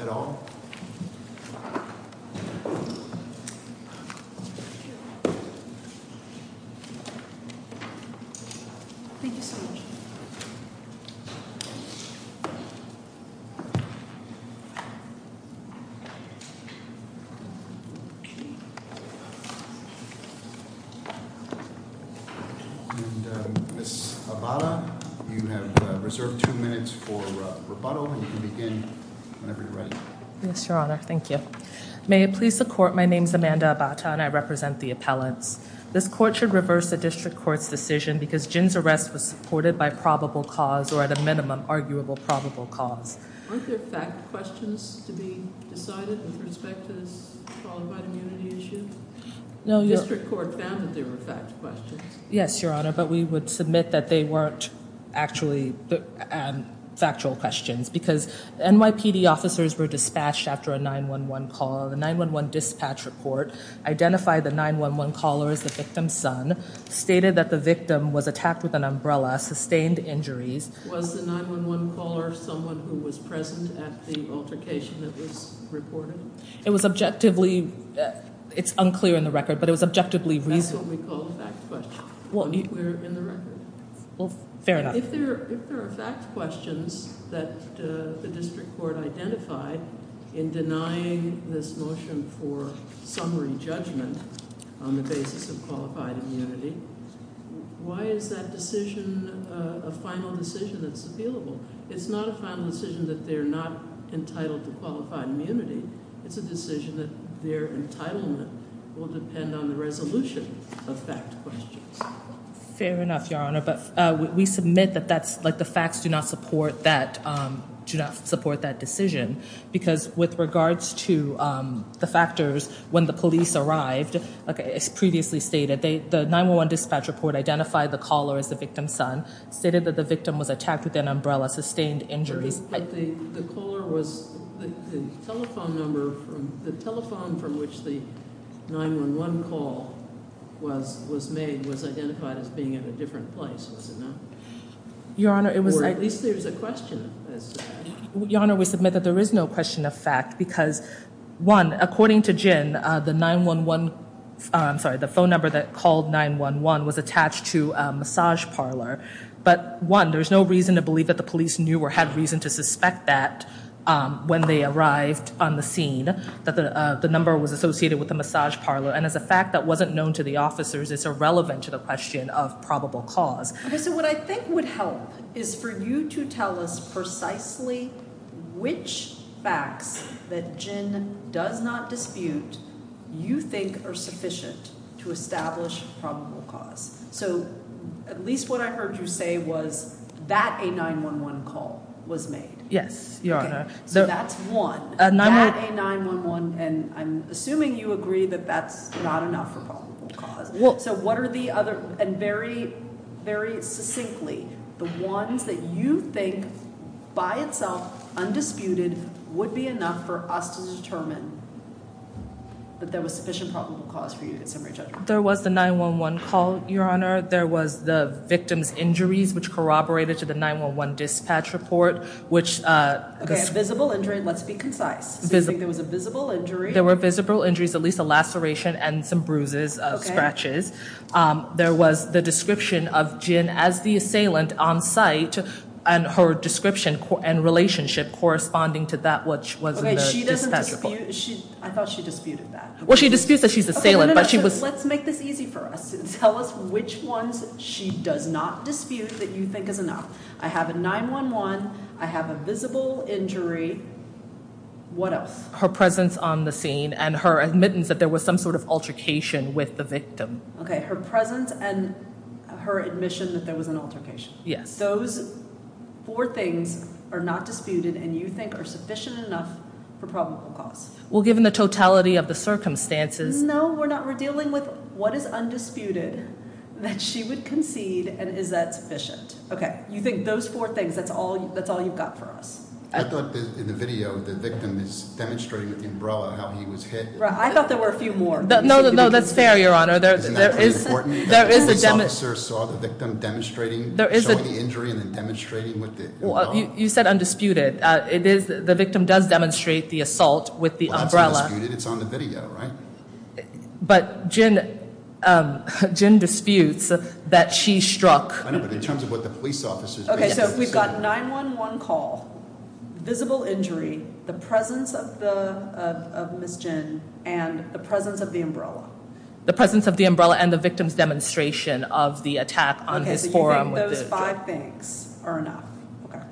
at all. Thank you so much. Ms. Abata, you have reserved two minutes for rebuttal, and you can begin whenever you're ready. Yes, Your Honor. Thank you. May it please the Court, my name is Amanda Abata, and I represent the appellants. This Court should reverse the District Court's decision because Jin's arrest was supported by probable cause, or at a minimum, arguable probable cause. Weren't there fact questions to be decided with respect to this qualified immunity issue? No, Your Honor. The District Court found that there were fact questions. Yes, Your Honor, but we would submit that they weren't actually factual questions, because NYPD officers were dispatched after a 911 call. The 911 dispatch report identified the 911 caller as the victim's son, stated that the victim was attacked with an umbrella, sustained injuries. Was the 911 caller someone who was present at the altercation that was reported? It was objectively, it's unclear in the record, but it was objectively reasoned. That's what we call a fact question, unclear in the record. Fair enough. If there are fact questions that the District Court identified in denying this motion for summary judgment on the basis of qualified immunity, why is that decision a final decision that's available? It's not a final decision that they're not entitled to qualified immunity. It's a decision that their entitlement will depend on the resolution of fact questions. Fair enough, Your Honor, but we submit that the facts do not support that decision. Because with regards to the factors when the police arrived, as previously stated, the 911 dispatch report identified the caller as the victim's son, stated that the victim was attacked with an umbrella, sustained injuries. But the caller was, the telephone number, the telephone from which the 911 call was made was identified as being at a different place, was it not? Your Honor, it was- Or at least there's a question. Your Honor, we submit that there is no question of fact, because one, according to Gin, the 911, I'm sorry, the phone number that called 911 was attached to a massage parlor. But one, there's no reason to believe that the police knew or had reason to suspect that when they arrived on the scene, that the number was associated with the massage parlor. And as a fact that wasn't known to the officers, it's irrelevant to the question of probable cause. Okay, so what I think would help is for you to tell us precisely which facts that Gin does not dispute you think are sufficient to establish probable cause. So at least what I heard you say was that a 911 call was made. Yes, Your Honor. So that's one. A 911- That a 911, and I'm assuming you agree that that's not enough for probable cause. Well- So what are the other, and very, very succinctly, the ones that you think by itself, undisputed, would be enough for us to determine that there was sufficient probable cause for you to get summary judgment? There was the 911 call, Your Honor. There was the victim's injuries, which corroborated to the 911 dispatch report, which- Okay, a visible injury, let's be concise. So you think there was a visible injury? There were visible injuries, at least a laceration and some bruises, scratches. There was the description of Gin as the assailant on site, and her description and relationship corresponding to that which was in the dispatch report. Okay, she doesn't dispute, I thought she disputed that. Well, she disputes that she's the assailant, but she was- Okay, no, no, no, let's make this easy for us. Tell us which ones she does not dispute that you think is enough. I have a 911, I have a visible injury, what else? Her presence on the scene and her admittance that there was some sort of altercation with the victim. Okay, her presence and her admission that there was an altercation. Yes. Those four things are not disputed and you think are sufficient enough for probable cause. Well, given the totality of the circumstances- No, we're not. We're dealing with what is undisputed that she would concede and is that sufficient. Okay, you think those four things, that's all you've got for us. I thought in the video the victim is demonstrating with the umbrella how he was hit. Right, I thought there were a few more. No, no, no, that's fair, Your Honor. Isn't that pretty important? You said undisputed. It is, the victim does demonstrate the assault with the umbrella. Well, that's undisputed, it's on the video, right? But Gin disputes that she struck- I know, but in terms of what the police officers- Okay, so we've got 911 call, visible injury, the presence of Ms. Gin, and the presence of the umbrella. The presence of the umbrella and the victim's demonstration of the attack on his forearm. I think those five things are enough. Okay.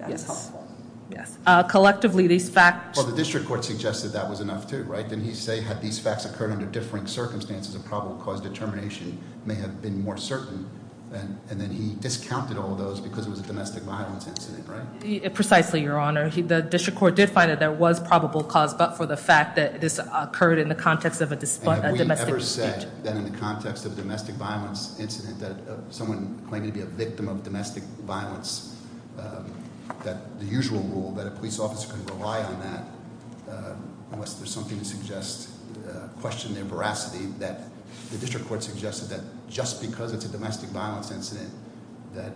That is helpful. Yes. Collectively, these facts- Well, the district court suggested that was enough, too, right? Didn't he say had these facts occurred under differing circumstances, a probable cause determination may have been more certain? And then he discounted all those because it was a domestic violence incident, right? Precisely, Your Honor. The district court did find that there was probable cause but for the fact that this occurred in the context of a domestic incident. That in the context of a domestic violence incident, that someone claiming to be a victim of domestic violence, that the usual rule that a police officer can rely on that unless there's something to question their veracity, that the district court suggested that just because it's a domestic violence incident, that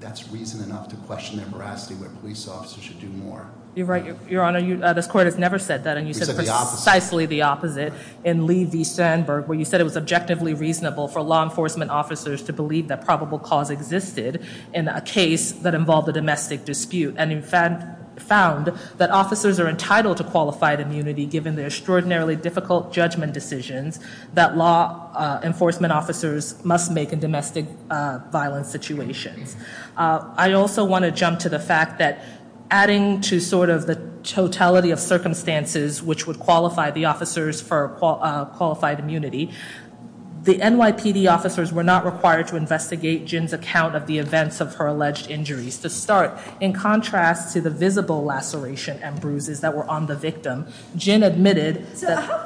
that's reason enough to question their veracity where a police officer should do more. You're right, Your Honor. This court has never said that, and you said precisely the opposite. In Lee v. Sandberg, where you said it was objectively reasonable for law enforcement officers to believe that probable cause existed in a case that involved a domestic dispute, and in fact found that officers are entitled to qualified immunity given the extraordinarily difficult judgment decisions that law enforcement officers must make in domestic violence situations. I also want to jump to the fact that adding to sort of the totality of circumstances, which would qualify the officers for qualified immunity, the NYPD officers were not required to investigate Jin's account of the events of her alleged injuries. To start, in contrast to the visible laceration and bruises that were on the victim, Jin admitted that-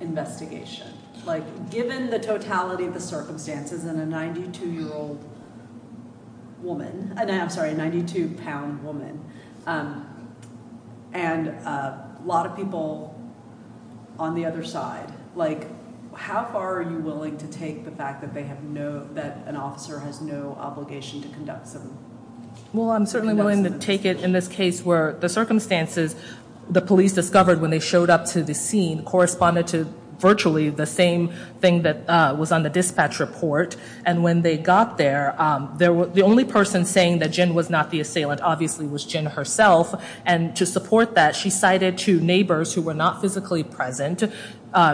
investigation. Like, given the totality of the circumstances and a 92-year-old woman, I'm sorry, a 92-pound woman, and a lot of people on the other side, like, how far are you willing to take the fact that they have no- that an officer has no obligation to conduct some- Well, I'm certainly willing to take it in this case where the circumstances, which is the police discovered when they showed up to the scene, corresponded to virtually the same thing that was on the dispatch report. And when they got there, the only person saying that Jin was not the assailant obviously was Jin herself. And to support that, she cited two neighbors who were not physically present.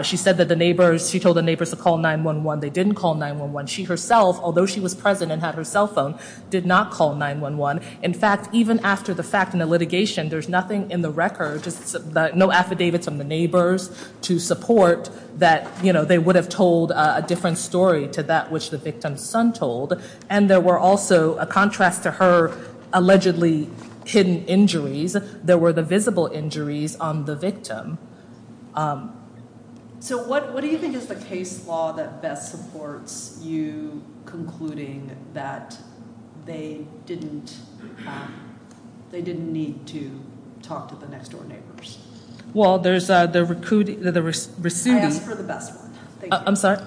She said that the neighbors- she told the neighbors to call 911. They didn't call 911. She herself, although she was present and had her cell phone, did not call 911. In fact, even after the fact in the litigation, there's nothing in the record, just no affidavits from the neighbors to support that, you know, they would have told a different story to that which the victim's son told. And there were also, a contrast to her allegedly hidden injuries, there were the visible injuries on the victim. So what do you think is the case law that best supports you concluding that they didn't need to talk to the next-door neighbors? Well, there's the Rasuti- I asked for the best one. I'm sorry?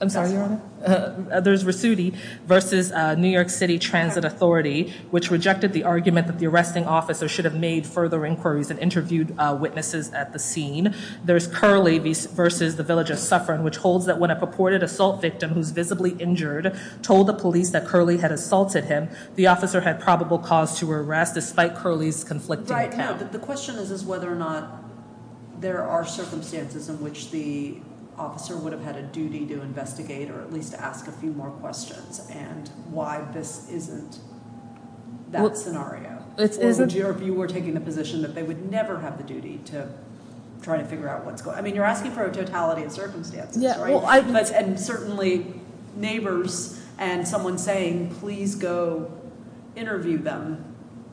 I'm sorry, Your Honor? There's Rasuti versus New York City Transit Authority, which rejected the argument that the arresting officer should have made further inquiries and interviewed witnesses at the scene. There's Curley versus the village of Suffern, which holds that when a purported assault victim who's visibly injured told the police that Curley had assaulted him, the officer had probable cause to arrest despite Curley's conflicting account. Right, no, the question is whether or not there are circumstances in which the officer would have had a duty to investigate or at least ask a few more questions, and why this isn't that scenario. It isn't? Or if you were taking the position that they would never have the duty to try to figure out what's going on. I mean, you're asking for a totality of circumstances, right? And certainly neighbors and someone saying, please go interview them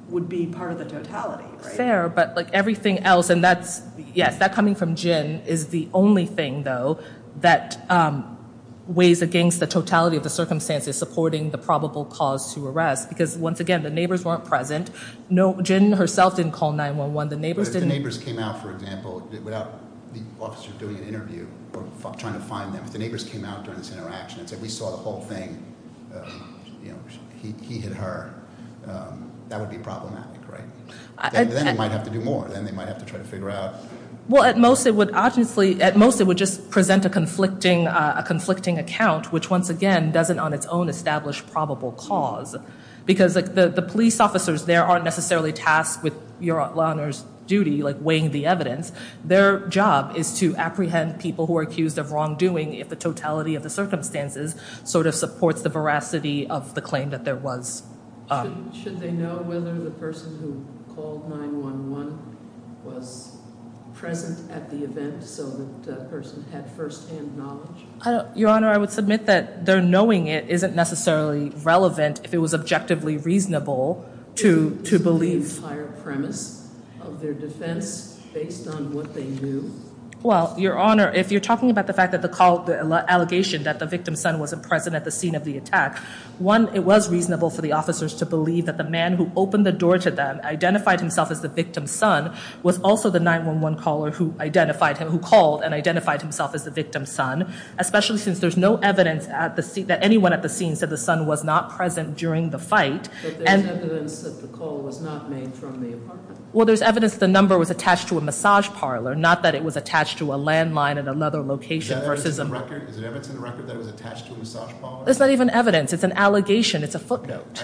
would be part of the totality, right? Fair, but everything else, and that's, yes, that coming from Jin is the only thing, though, that weighs against the totality of the circumstances supporting the probable cause to arrest, because once again, the neighbors weren't present. No, Jin herself didn't call 911. The neighbors came out, for example, without the officer doing an interview or trying to find them. If the neighbors came out during this interaction and said, we saw the whole thing, he hit her, that would be problematic, right? Then they might have to do more. Then they might have to try to figure out. Well, at most it would just present a conflicting account, which once again doesn't on its own establish probable cause, because the police officers there aren't necessarily tasked with your Honor's duty, like weighing the evidence. Their job is to apprehend people who are accused of wrongdoing if the totality of the circumstances sort of supports the veracity of the claim that there was. Should they know whether the person who called 911 was present at the event so that person had firsthand knowledge? Your Honor, I would submit that their knowing it isn't necessarily relevant if it was objectively reasonable to believe. The entire premise of their defense based on what they knew? Well, Your Honor, if you're talking about the fact that the allegation that the victim's son wasn't present at the scene of the attack, one, it was reasonable for the officers to believe that the man who opened the door to them, identified himself as the victim's son, was also the 911 caller who identified him, who called and identified himself as the victim's son, especially since there's no evidence that anyone at the scene said the son was not present during the fight. But there's evidence that the call was not made from the apartment? Well, there's evidence the number was attached to a massage parlor, not that it was attached to a landline at another location versus a... Is there evidence in the record that it was attached to a massage parlor? There's not even evidence. It's an allegation. It's a footnote.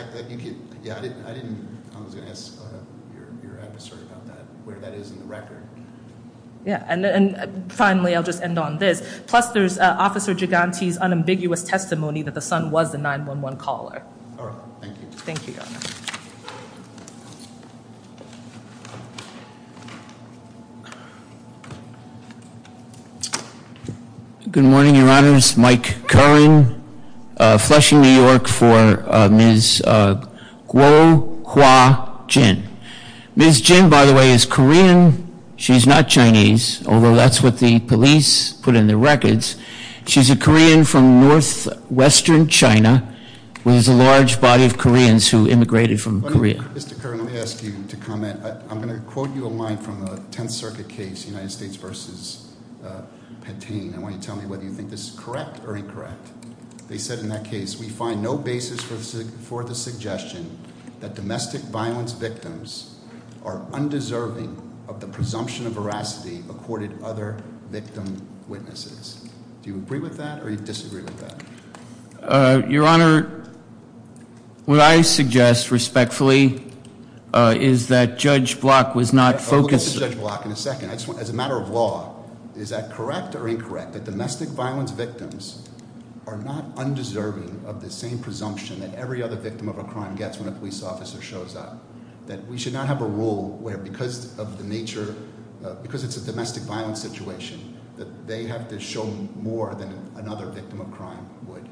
Yeah, I didn't... I was going to ask your adversary about that, where that is in the record. Yeah, and finally, I'll just end on this. Plus, there's Officer Giganti's unambiguous testimony that the son was the 911 caller. All right. Thank you. Thank you, Your Honor. Good morning, Your Honors. Mike Curran, Flushing, New York, for Ms. Guo Hua Jin. Ms. Jin, by the way, is Korean. She's not Chinese, although that's what the police put in the records. She's a Korean from northwestern China, where there's a large body of Koreans who immigrated from Korea. Mr. Curran, let me ask you to comment. I'm going to quote you a line from a Tenth Circuit case, United States v. Patin. I want you to tell me whether you think this is correct or incorrect. They said in that case, we find no basis for the suggestion that domestic violence victims are undeserving of the presumption of veracity, accorded other victim witnesses. Do you agree with that or do you disagree with that? Your Honor, what I suggest respectfully is that Judge Block was not focused- We'll get to Judge Block in a second. As a matter of law, is that correct or incorrect, that domestic violence victims are not undeserving of the same presumption that every other victim of a crime gets when a police officer shows up? That we should not have a rule where, because of the nature, because it's a domestic violence situation, that they have to show more than another victim of crime would?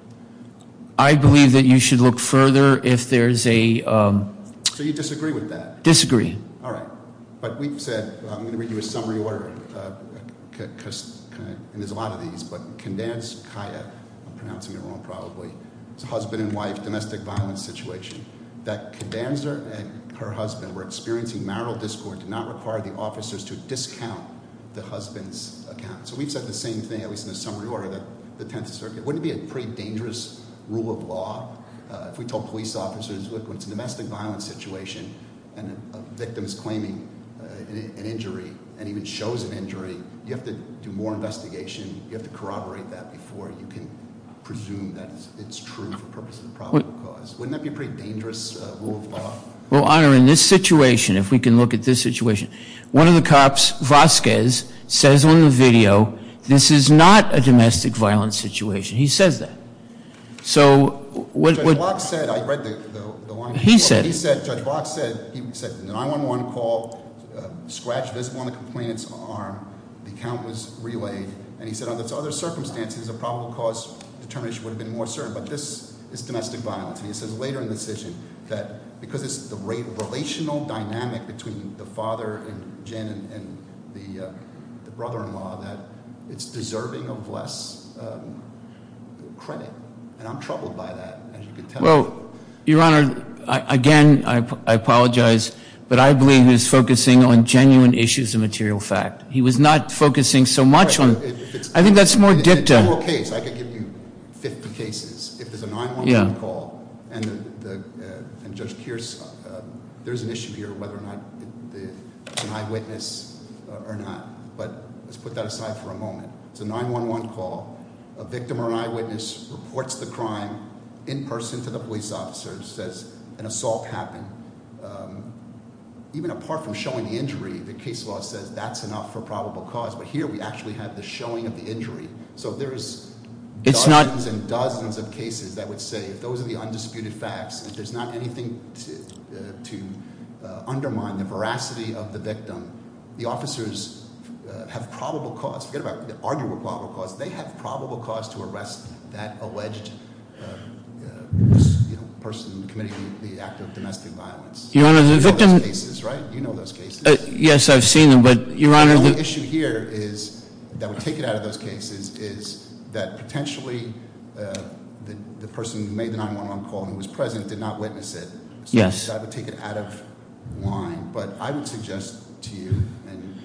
I believe that you should look further if there's a- So you disagree with that? Disagree. All right. But we've said, I'm going to read you a summary order, and there's a lot of these, but Kandanskaya, I'm pronouncing it wrong probably, it's a husband and wife domestic violence situation, that Kandanskaya and her husband were experiencing marital discord, did not require the officers to discount the husband's account. So we've said the same thing, at least in the summary order, that the Tenth Circuit- Wouldn't it be a pretty dangerous rule of law if we told police officers, look, when it's a domestic violence situation and a victim is claiming an injury and even shows an injury, you have to do more investigation, you have to corroborate that before you can presume that it's true for purposes of probable cause. Wouldn't that be a pretty dangerous rule of law? Well, Honor, in this situation, if we can look at this situation, one of the cops, Vasquez, says on the video, this is not a domestic violence situation. He says that. So what- Judge Block said, I read the line- He said- He said, Judge Block said, he said an 9-1-1 call, Scratch doesn't want to complain, it's armed, the account was relayed, and he said under other circumstances, a probable cause determination would have been more certain, but this is domestic violence. And he says later in the decision that because it's the relational dynamic between the father and Jen and the brother-in-law, that it's deserving of less credit. And I'm troubled by that, as you can tell. Well, Your Honor, again, I apologize, but I believe he was focusing on genuine issues of material fact. He was not focusing so much on- I think that's more dicta. If there's a criminal case, I could give you 50 cases. If there's a 9-1-1 call, and Judge Kears, there's an issue here whether or not it's an eyewitness or not. But let's put that aside for a moment. It's a 9-1-1 call, a victim or an eyewitness reports the crime in person to the police officer, says an assault happened. Even apart from showing the injury, the case law says that's enough for probable cause. But here we actually have the showing of the injury. So there's dozens and dozens of cases that would say, if those are the undisputed facts, if there's not anything to undermine the veracity of the victim, the officers have probable cause. Forget about the arguable probable cause. They have probable cause to arrest that alleged person committing the act of domestic violence. You know those cases, right? You know those cases. Yes, I've seen them, but Your Honor- That would take it out of those cases is that potentially the person who made the 9-1-1 call and was present did not witness it. Yes. So that would take it out of line. But I would suggest to you, and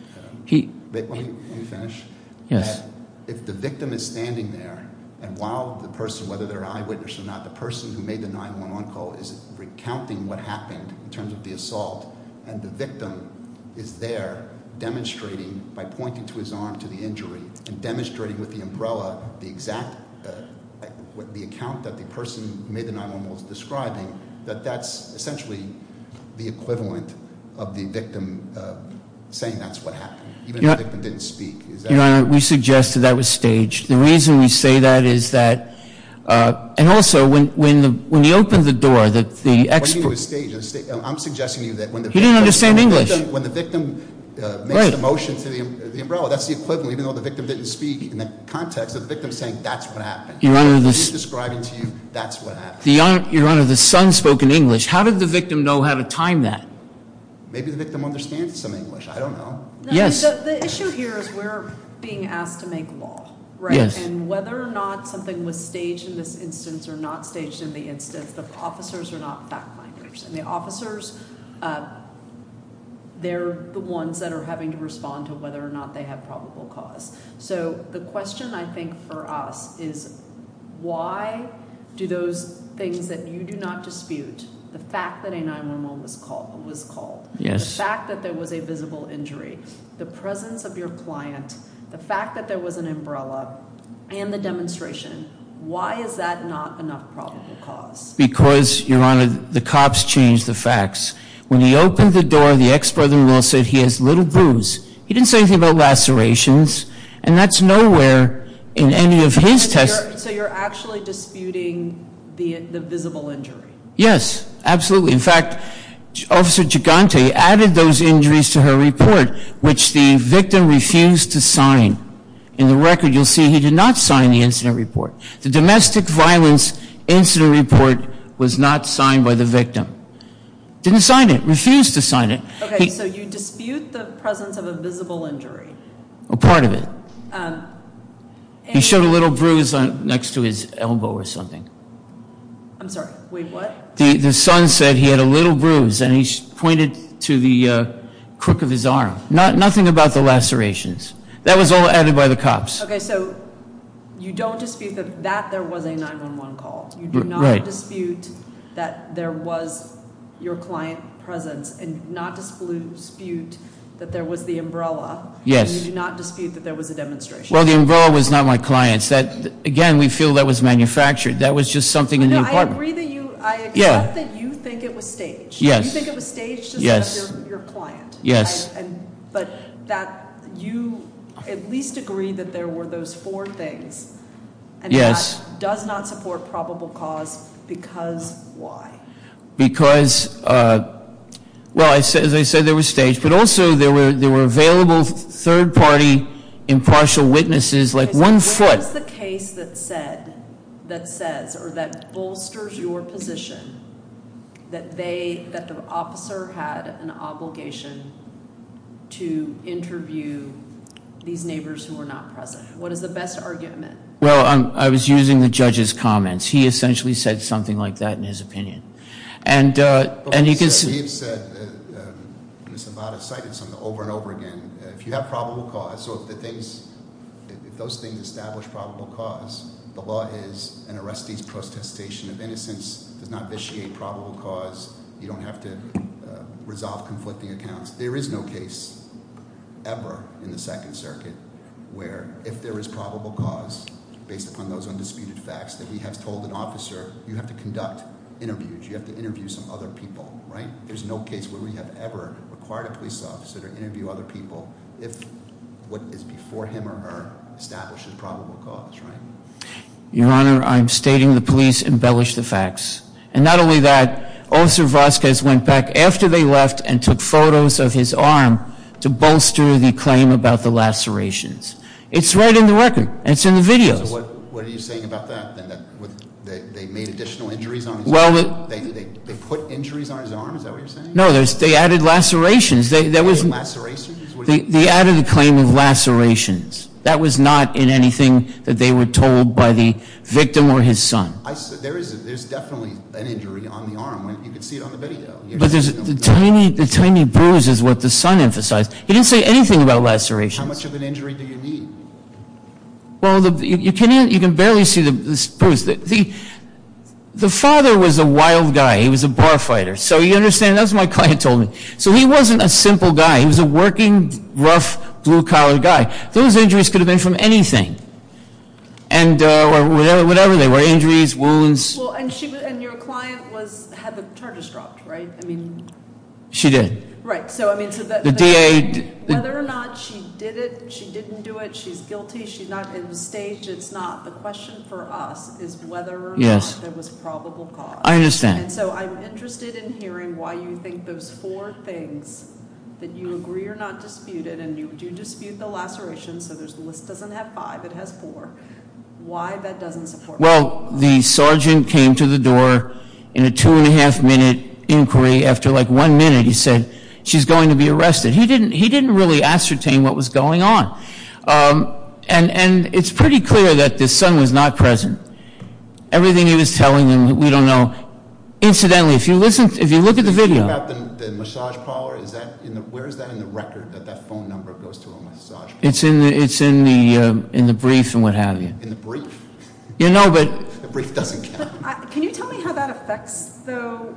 let me finish, that if the victim is standing there and while the person, whether they're an eyewitness or not, the person who made the 9-1-1 call is recounting what happened in terms of the assault, and the victim is there demonstrating by pointing to his arm to the injury and demonstrating with the umbrella the exact, the account that the person who made the 9-1-1 call is describing, that that's essentially the equivalent of the victim saying that's what happened, even if the victim didn't speak. Your Honor, we suggest that that was staged. The reason we say that is that, and also when you open the door, when you do a stage, I'm suggesting to you that when the victim- He didn't understand English. When the victim makes the motion to the umbrella, that's the equivalent, even though the victim didn't speak in the context of the victim saying that's what happened. He's describing to you that's what happened. Your Honor, the son spoke in English. How did the victim know how to time that? Maybe the victim understands some English. I don't know. Yes. The issue here is we're being asked to make law, right? Yes. And whether or not something was staged in this instance or not staged in the instance, the officers are not fact-finders. The officers, they're the ones that are having to respond to whether or not they have probable cause. So the question, I think, for us is why do those things that you do not dispute, the fact that a 9-1-1 was called, the fact that there was a visible injury, the presence of your client, the fact that there was an enough probable cause? Because, Your Honor, the cops changed the facts. When he opened the door, the ex-brother-in-law said he has little bruise. He didn't say anything about lacerations, and that's nowhere in any of his testimony. So you're actually disputing the visible injury? Yes, absolutely. In fact, Officer Gigante added those injuries to her report, which the victim refused to sign. In the record, you'll see he did not sign the incident report. The domestic violence incident report was not signed by the victim. Didn't sign it. Refused to sign it. Okay, so you dispute the presence of a visible injury. Part of it. He showed a little bruise next to his elbow or something. I'm sorry. Wait, what? The son said he had a little bruise, and he pointed to the crook of his arm. Nothing about the lacerations. That was all added by the cops. Okay, so you don't dispute that there was a 911 call. You do not dispute that there was your client presence, and you do not dispute that there was the umbrella. Yes. And you do not dispute that there was a demonstration. Well, the umbrella was not my client's. Again, we feel that was manufactured. That was just something in the apartment. No, I agree that you think it was staged. You think it was staged to set up your client. Yes. But you at least agree that there were those four things. Yes. And that does not support probable cause because why? Because, well, as I said, there was staged, but also there were available third-party impartial witnesses like one foot. What is the case that says, or that bolsters your position, that the officer had an obligation to interview these neighbors who were not present? What is the best argument? Well, I was using the judge's comments. He essentially said something like that in his opinion. He said, and it's about a sighting, over and over again, if you have probable cause, so if those things establish probable cause, the law is an arrestee's protestation of innocence does not vitiate probable cause. You don't have to resolve conflicting accounts. There is no case ever in the Second Circuit where if there is probable cause, based upon those undisputed facts that we have told an officer, you have to conduct interviews. You have to interview some other people. There's no case where we have ever required a police officer to interview other people if what is before him or her establishes probable cause, right? Your Honor, I'm stating the police embellished the facts. And not only that, Officer Vasquez went back after they left and took photos of his arm to bolster the claim about the lacerations. It's right in the record. It's in the videos. So what are you saying about that, then? That they made additional injuries on his arm? They put injuries on his arm? Is that what you're saying? No, they added lacerations. They added a claim of lacerations. That was not in anything that they were told by the victim or his son. There's definitely an injury on the arm. You can see it on the video. The tiny bruise is what the son emphasized. He didn't say anything about lacerations. How much of an injury do you need? Well, you can barely see the bruise. The father was a wild guy. He was a bar fighter. So you understand, that's what my client told me. So he wasn't a simple guy. He was a working, rough, blue-collar guy. Those injuries could have been from anything, whatever they were. Injuries, wounds. And your client had the charges dropped, right? She did. Right. Whether or not she did it, she didn't do it, she's guilty, she's not at the stage, it's not. The question for us is whether or not there was probable cause. I understand. And so I'm interested in hearing why you think those four things that you agree are not disputed, and you do dispute the lacerations, so the list doesn't have five, it has four. Why that doesn't support? Well, the sergeant came to the door in a two-and-a-half-minute inquiry. After, like, one minute, he said, she's going to be arrested. He didn't really ascertain what was going on. And it's pretty clear that the son was not present. Everything he was telling them, we don't know. Incidentally, if you look at the video. The thing about the massage parlor, where is that in the record, that that phone number goes to a massage parlor? It's in the brief and what have you. In the brief? You know, but. The brief doesn't count. Can you tell me how that affects, though,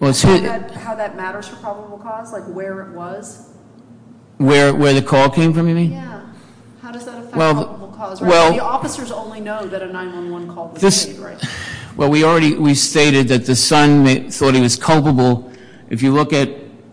how that matters for probable cause, like where it was? Where the call came from, you mean? Yeah. How does that affect probable cause? The officers only know that a 911 call was made, right? Well, we already stated that the son thought he was culpable. If you look at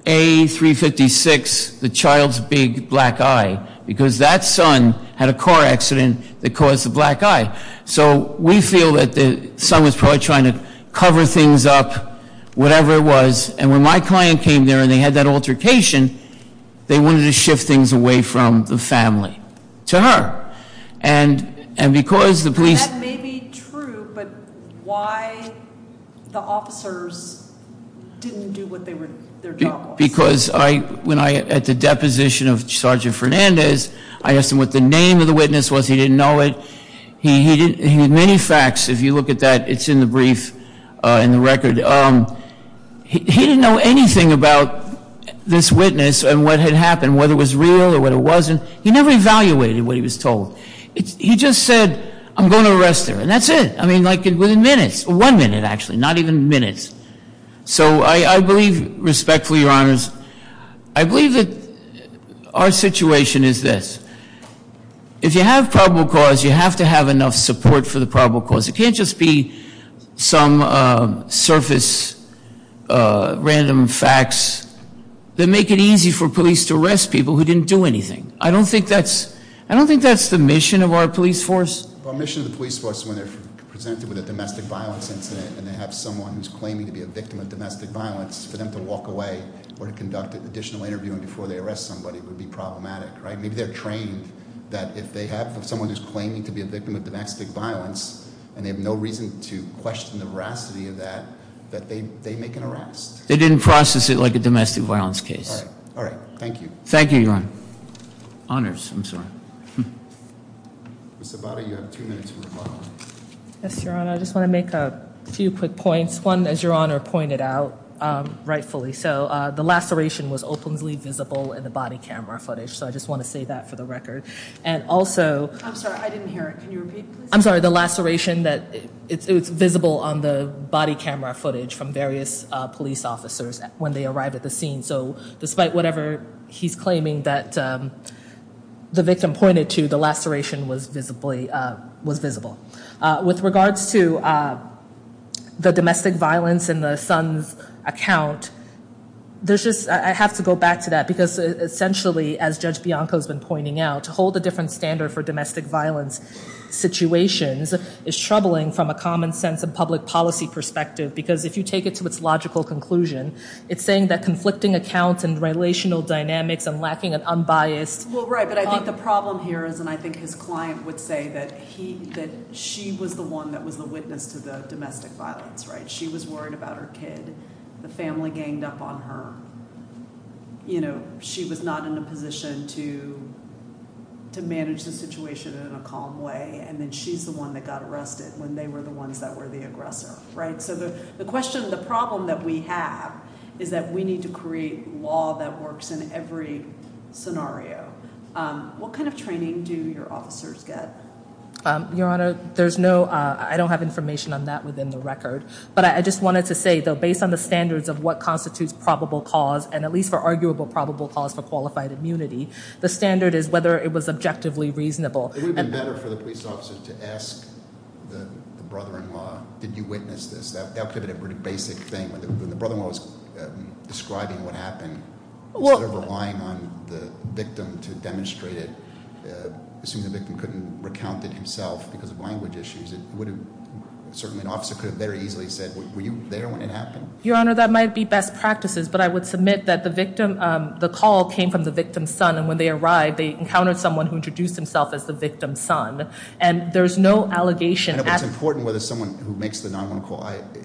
A356, the child's big black eye, because that son had a car accident that caused the black eye. So we feel that the son was probably trying to cover things up, whatever it was. And when my client came there and they had that altercation, they wanted to shift things away from the family to her. And because the police. That may be true, but why the officers didn't do what their job was? Because when I had the deposition of Sergeant Fernandez, I asked him what the name of the witness was. He didn't know it. He had many facts. If you look at that, it's in the brief in the record. He didn't know anything about this witness and what had happened, whether it was real or what it wasn't. He never evaluated what he was told. He just said, I'm going to arrest her. And that's it. I mean, like, within minutes. One minute, actually, not even minutes. So I believe, respectfully, Your Honors, I believe that our situation is this. If you have probable cause, you have to have enough support for the probable cause. It can't just be some surface random facts that make it easy for police to arrest people who didn't do anything. I don't think that's the mission of our police force. Our mission of the police force is when they're presented with a domestic violence incident and they have someone who's claiming to be a victim of domestic violence, for them to walk away or to conduct additional interviewing before they arrest somebody would be problematic, right? Maybe they're trained that if they have someone who's claiming to be a victim of domestic violence and they have no reason to question the veracity of that, that they make an arrest. They didn't process it like a domestic violence case. All right. Thank you. Thank you, Your Honor. Honors. I'm sorry. Ms. Zabata, you have two minutes for rebuttal. Yes, Your Honor. I just want to make a few quick points. One, as Your Honor pointed out rightfully, so the laceration was openly visible in the body camera footage. So I just want to say that for the record. And also— I'm sorry. I didn't hear it. Can you repeat, please? I'm sorry. The laceration, it's visible on the body camera footage from various police officers when they arrived at the scene. So despite whatever he's claiming that the victim pointed to, the laceration was visible. With regards to the domestic violence in the son's account, there's just— I have to go back to that because essentially, as Judge Bianco's been pointing out, to hold a different standard for domestic violence situations is troubling from a common sense and public policy perspective. Because if you take it to its logical conclusion, it's saying that conflicting accounts and relational dynamics and lacking an unbiased— Well, right. But I think the problem here is, and I think his client would say, that she was the one that was the witness to the domestic violence. She was worried about her kid. The family ganged up on her. She was not in a position to manage the situation in a calm way. And then she's the one that got arrested when they were the ones that were the aggressor. Right? So the question—the problem that we have is that we need to create law that works in every scenario. What kind of training do your officers get? Your Honor, there's no—I don't have information on that within the record. But I just wanted to say, though, based on the standards of what constitutes probable cause, and at least for arguable probable cause for qualified immunity, the standard is whether it was objectively reasonable. It would have been better for the police officer to ask the brother-in-law, did you witness this? That would have been a pretty basic thing. When the brother-in-law was describing what happened, instead of relying on the victim to demonstrate it, assuming the victim couldn't recount it himself because of language issues, it would have—certainly an officer could have very easily said, were you there when it happened? Your Honor, that might be best practices, but I would submit that the victim—the call came from the victim's son. And when they arrived, they encountered someone who introduced himself as the victim's son. And there's no allegation— I know, but it's important whether someone who makes the 911 call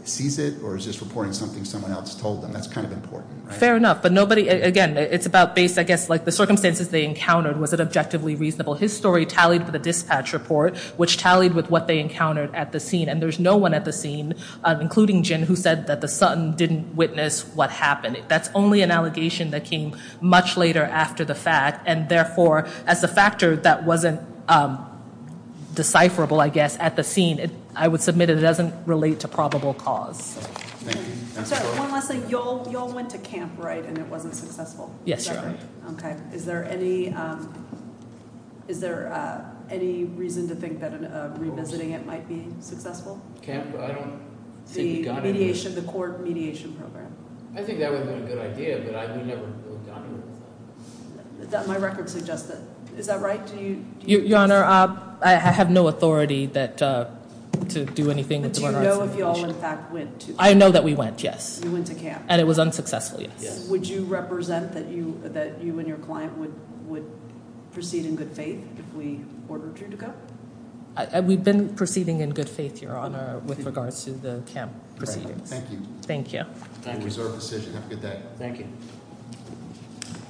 sees it, or is just reporting something someone else told them. That's kind of important, right? Fair enough. But nobody—again, it's about based, I guess, like the circumstances they encountered. Was it objectively reasonable? His story tallied with the dispatch report, which tallied with what they encountered at the scene. And there's no one at the scene, including Jin, who said that the son didn't witness what happened. That's only an allegation that came much later after the fact. And therefore, as a factor that wasn't decipherable, I guess, at the scene, I would submit it doesn't relate to probable cause. Thank you. One last thing. Y'all went to camp, right, and it wasn't successful? Yes, Your Honor. Okay. Is there any reason to think that revisiting it might be successful? Camp? I don't think we got it. The mediation—the court mediation program. I think that would have been a good idea, but we never got it. My record suggests that. Is that right? Do you— Your Honor, I have no authority to do anything with regards to mediation. But do you know if you all, in fact, went to camp? I know that we went, yes. You went to camp. And it was unsuccessful, yes. Would you represent that you and your client would proceed in good faith if we ordered you to go? We've been proceeding in good faith, Your Honor, with regards to the camp proceedings. Thank you. Thank you. Time reserved for decision. Have a good day. Thank you.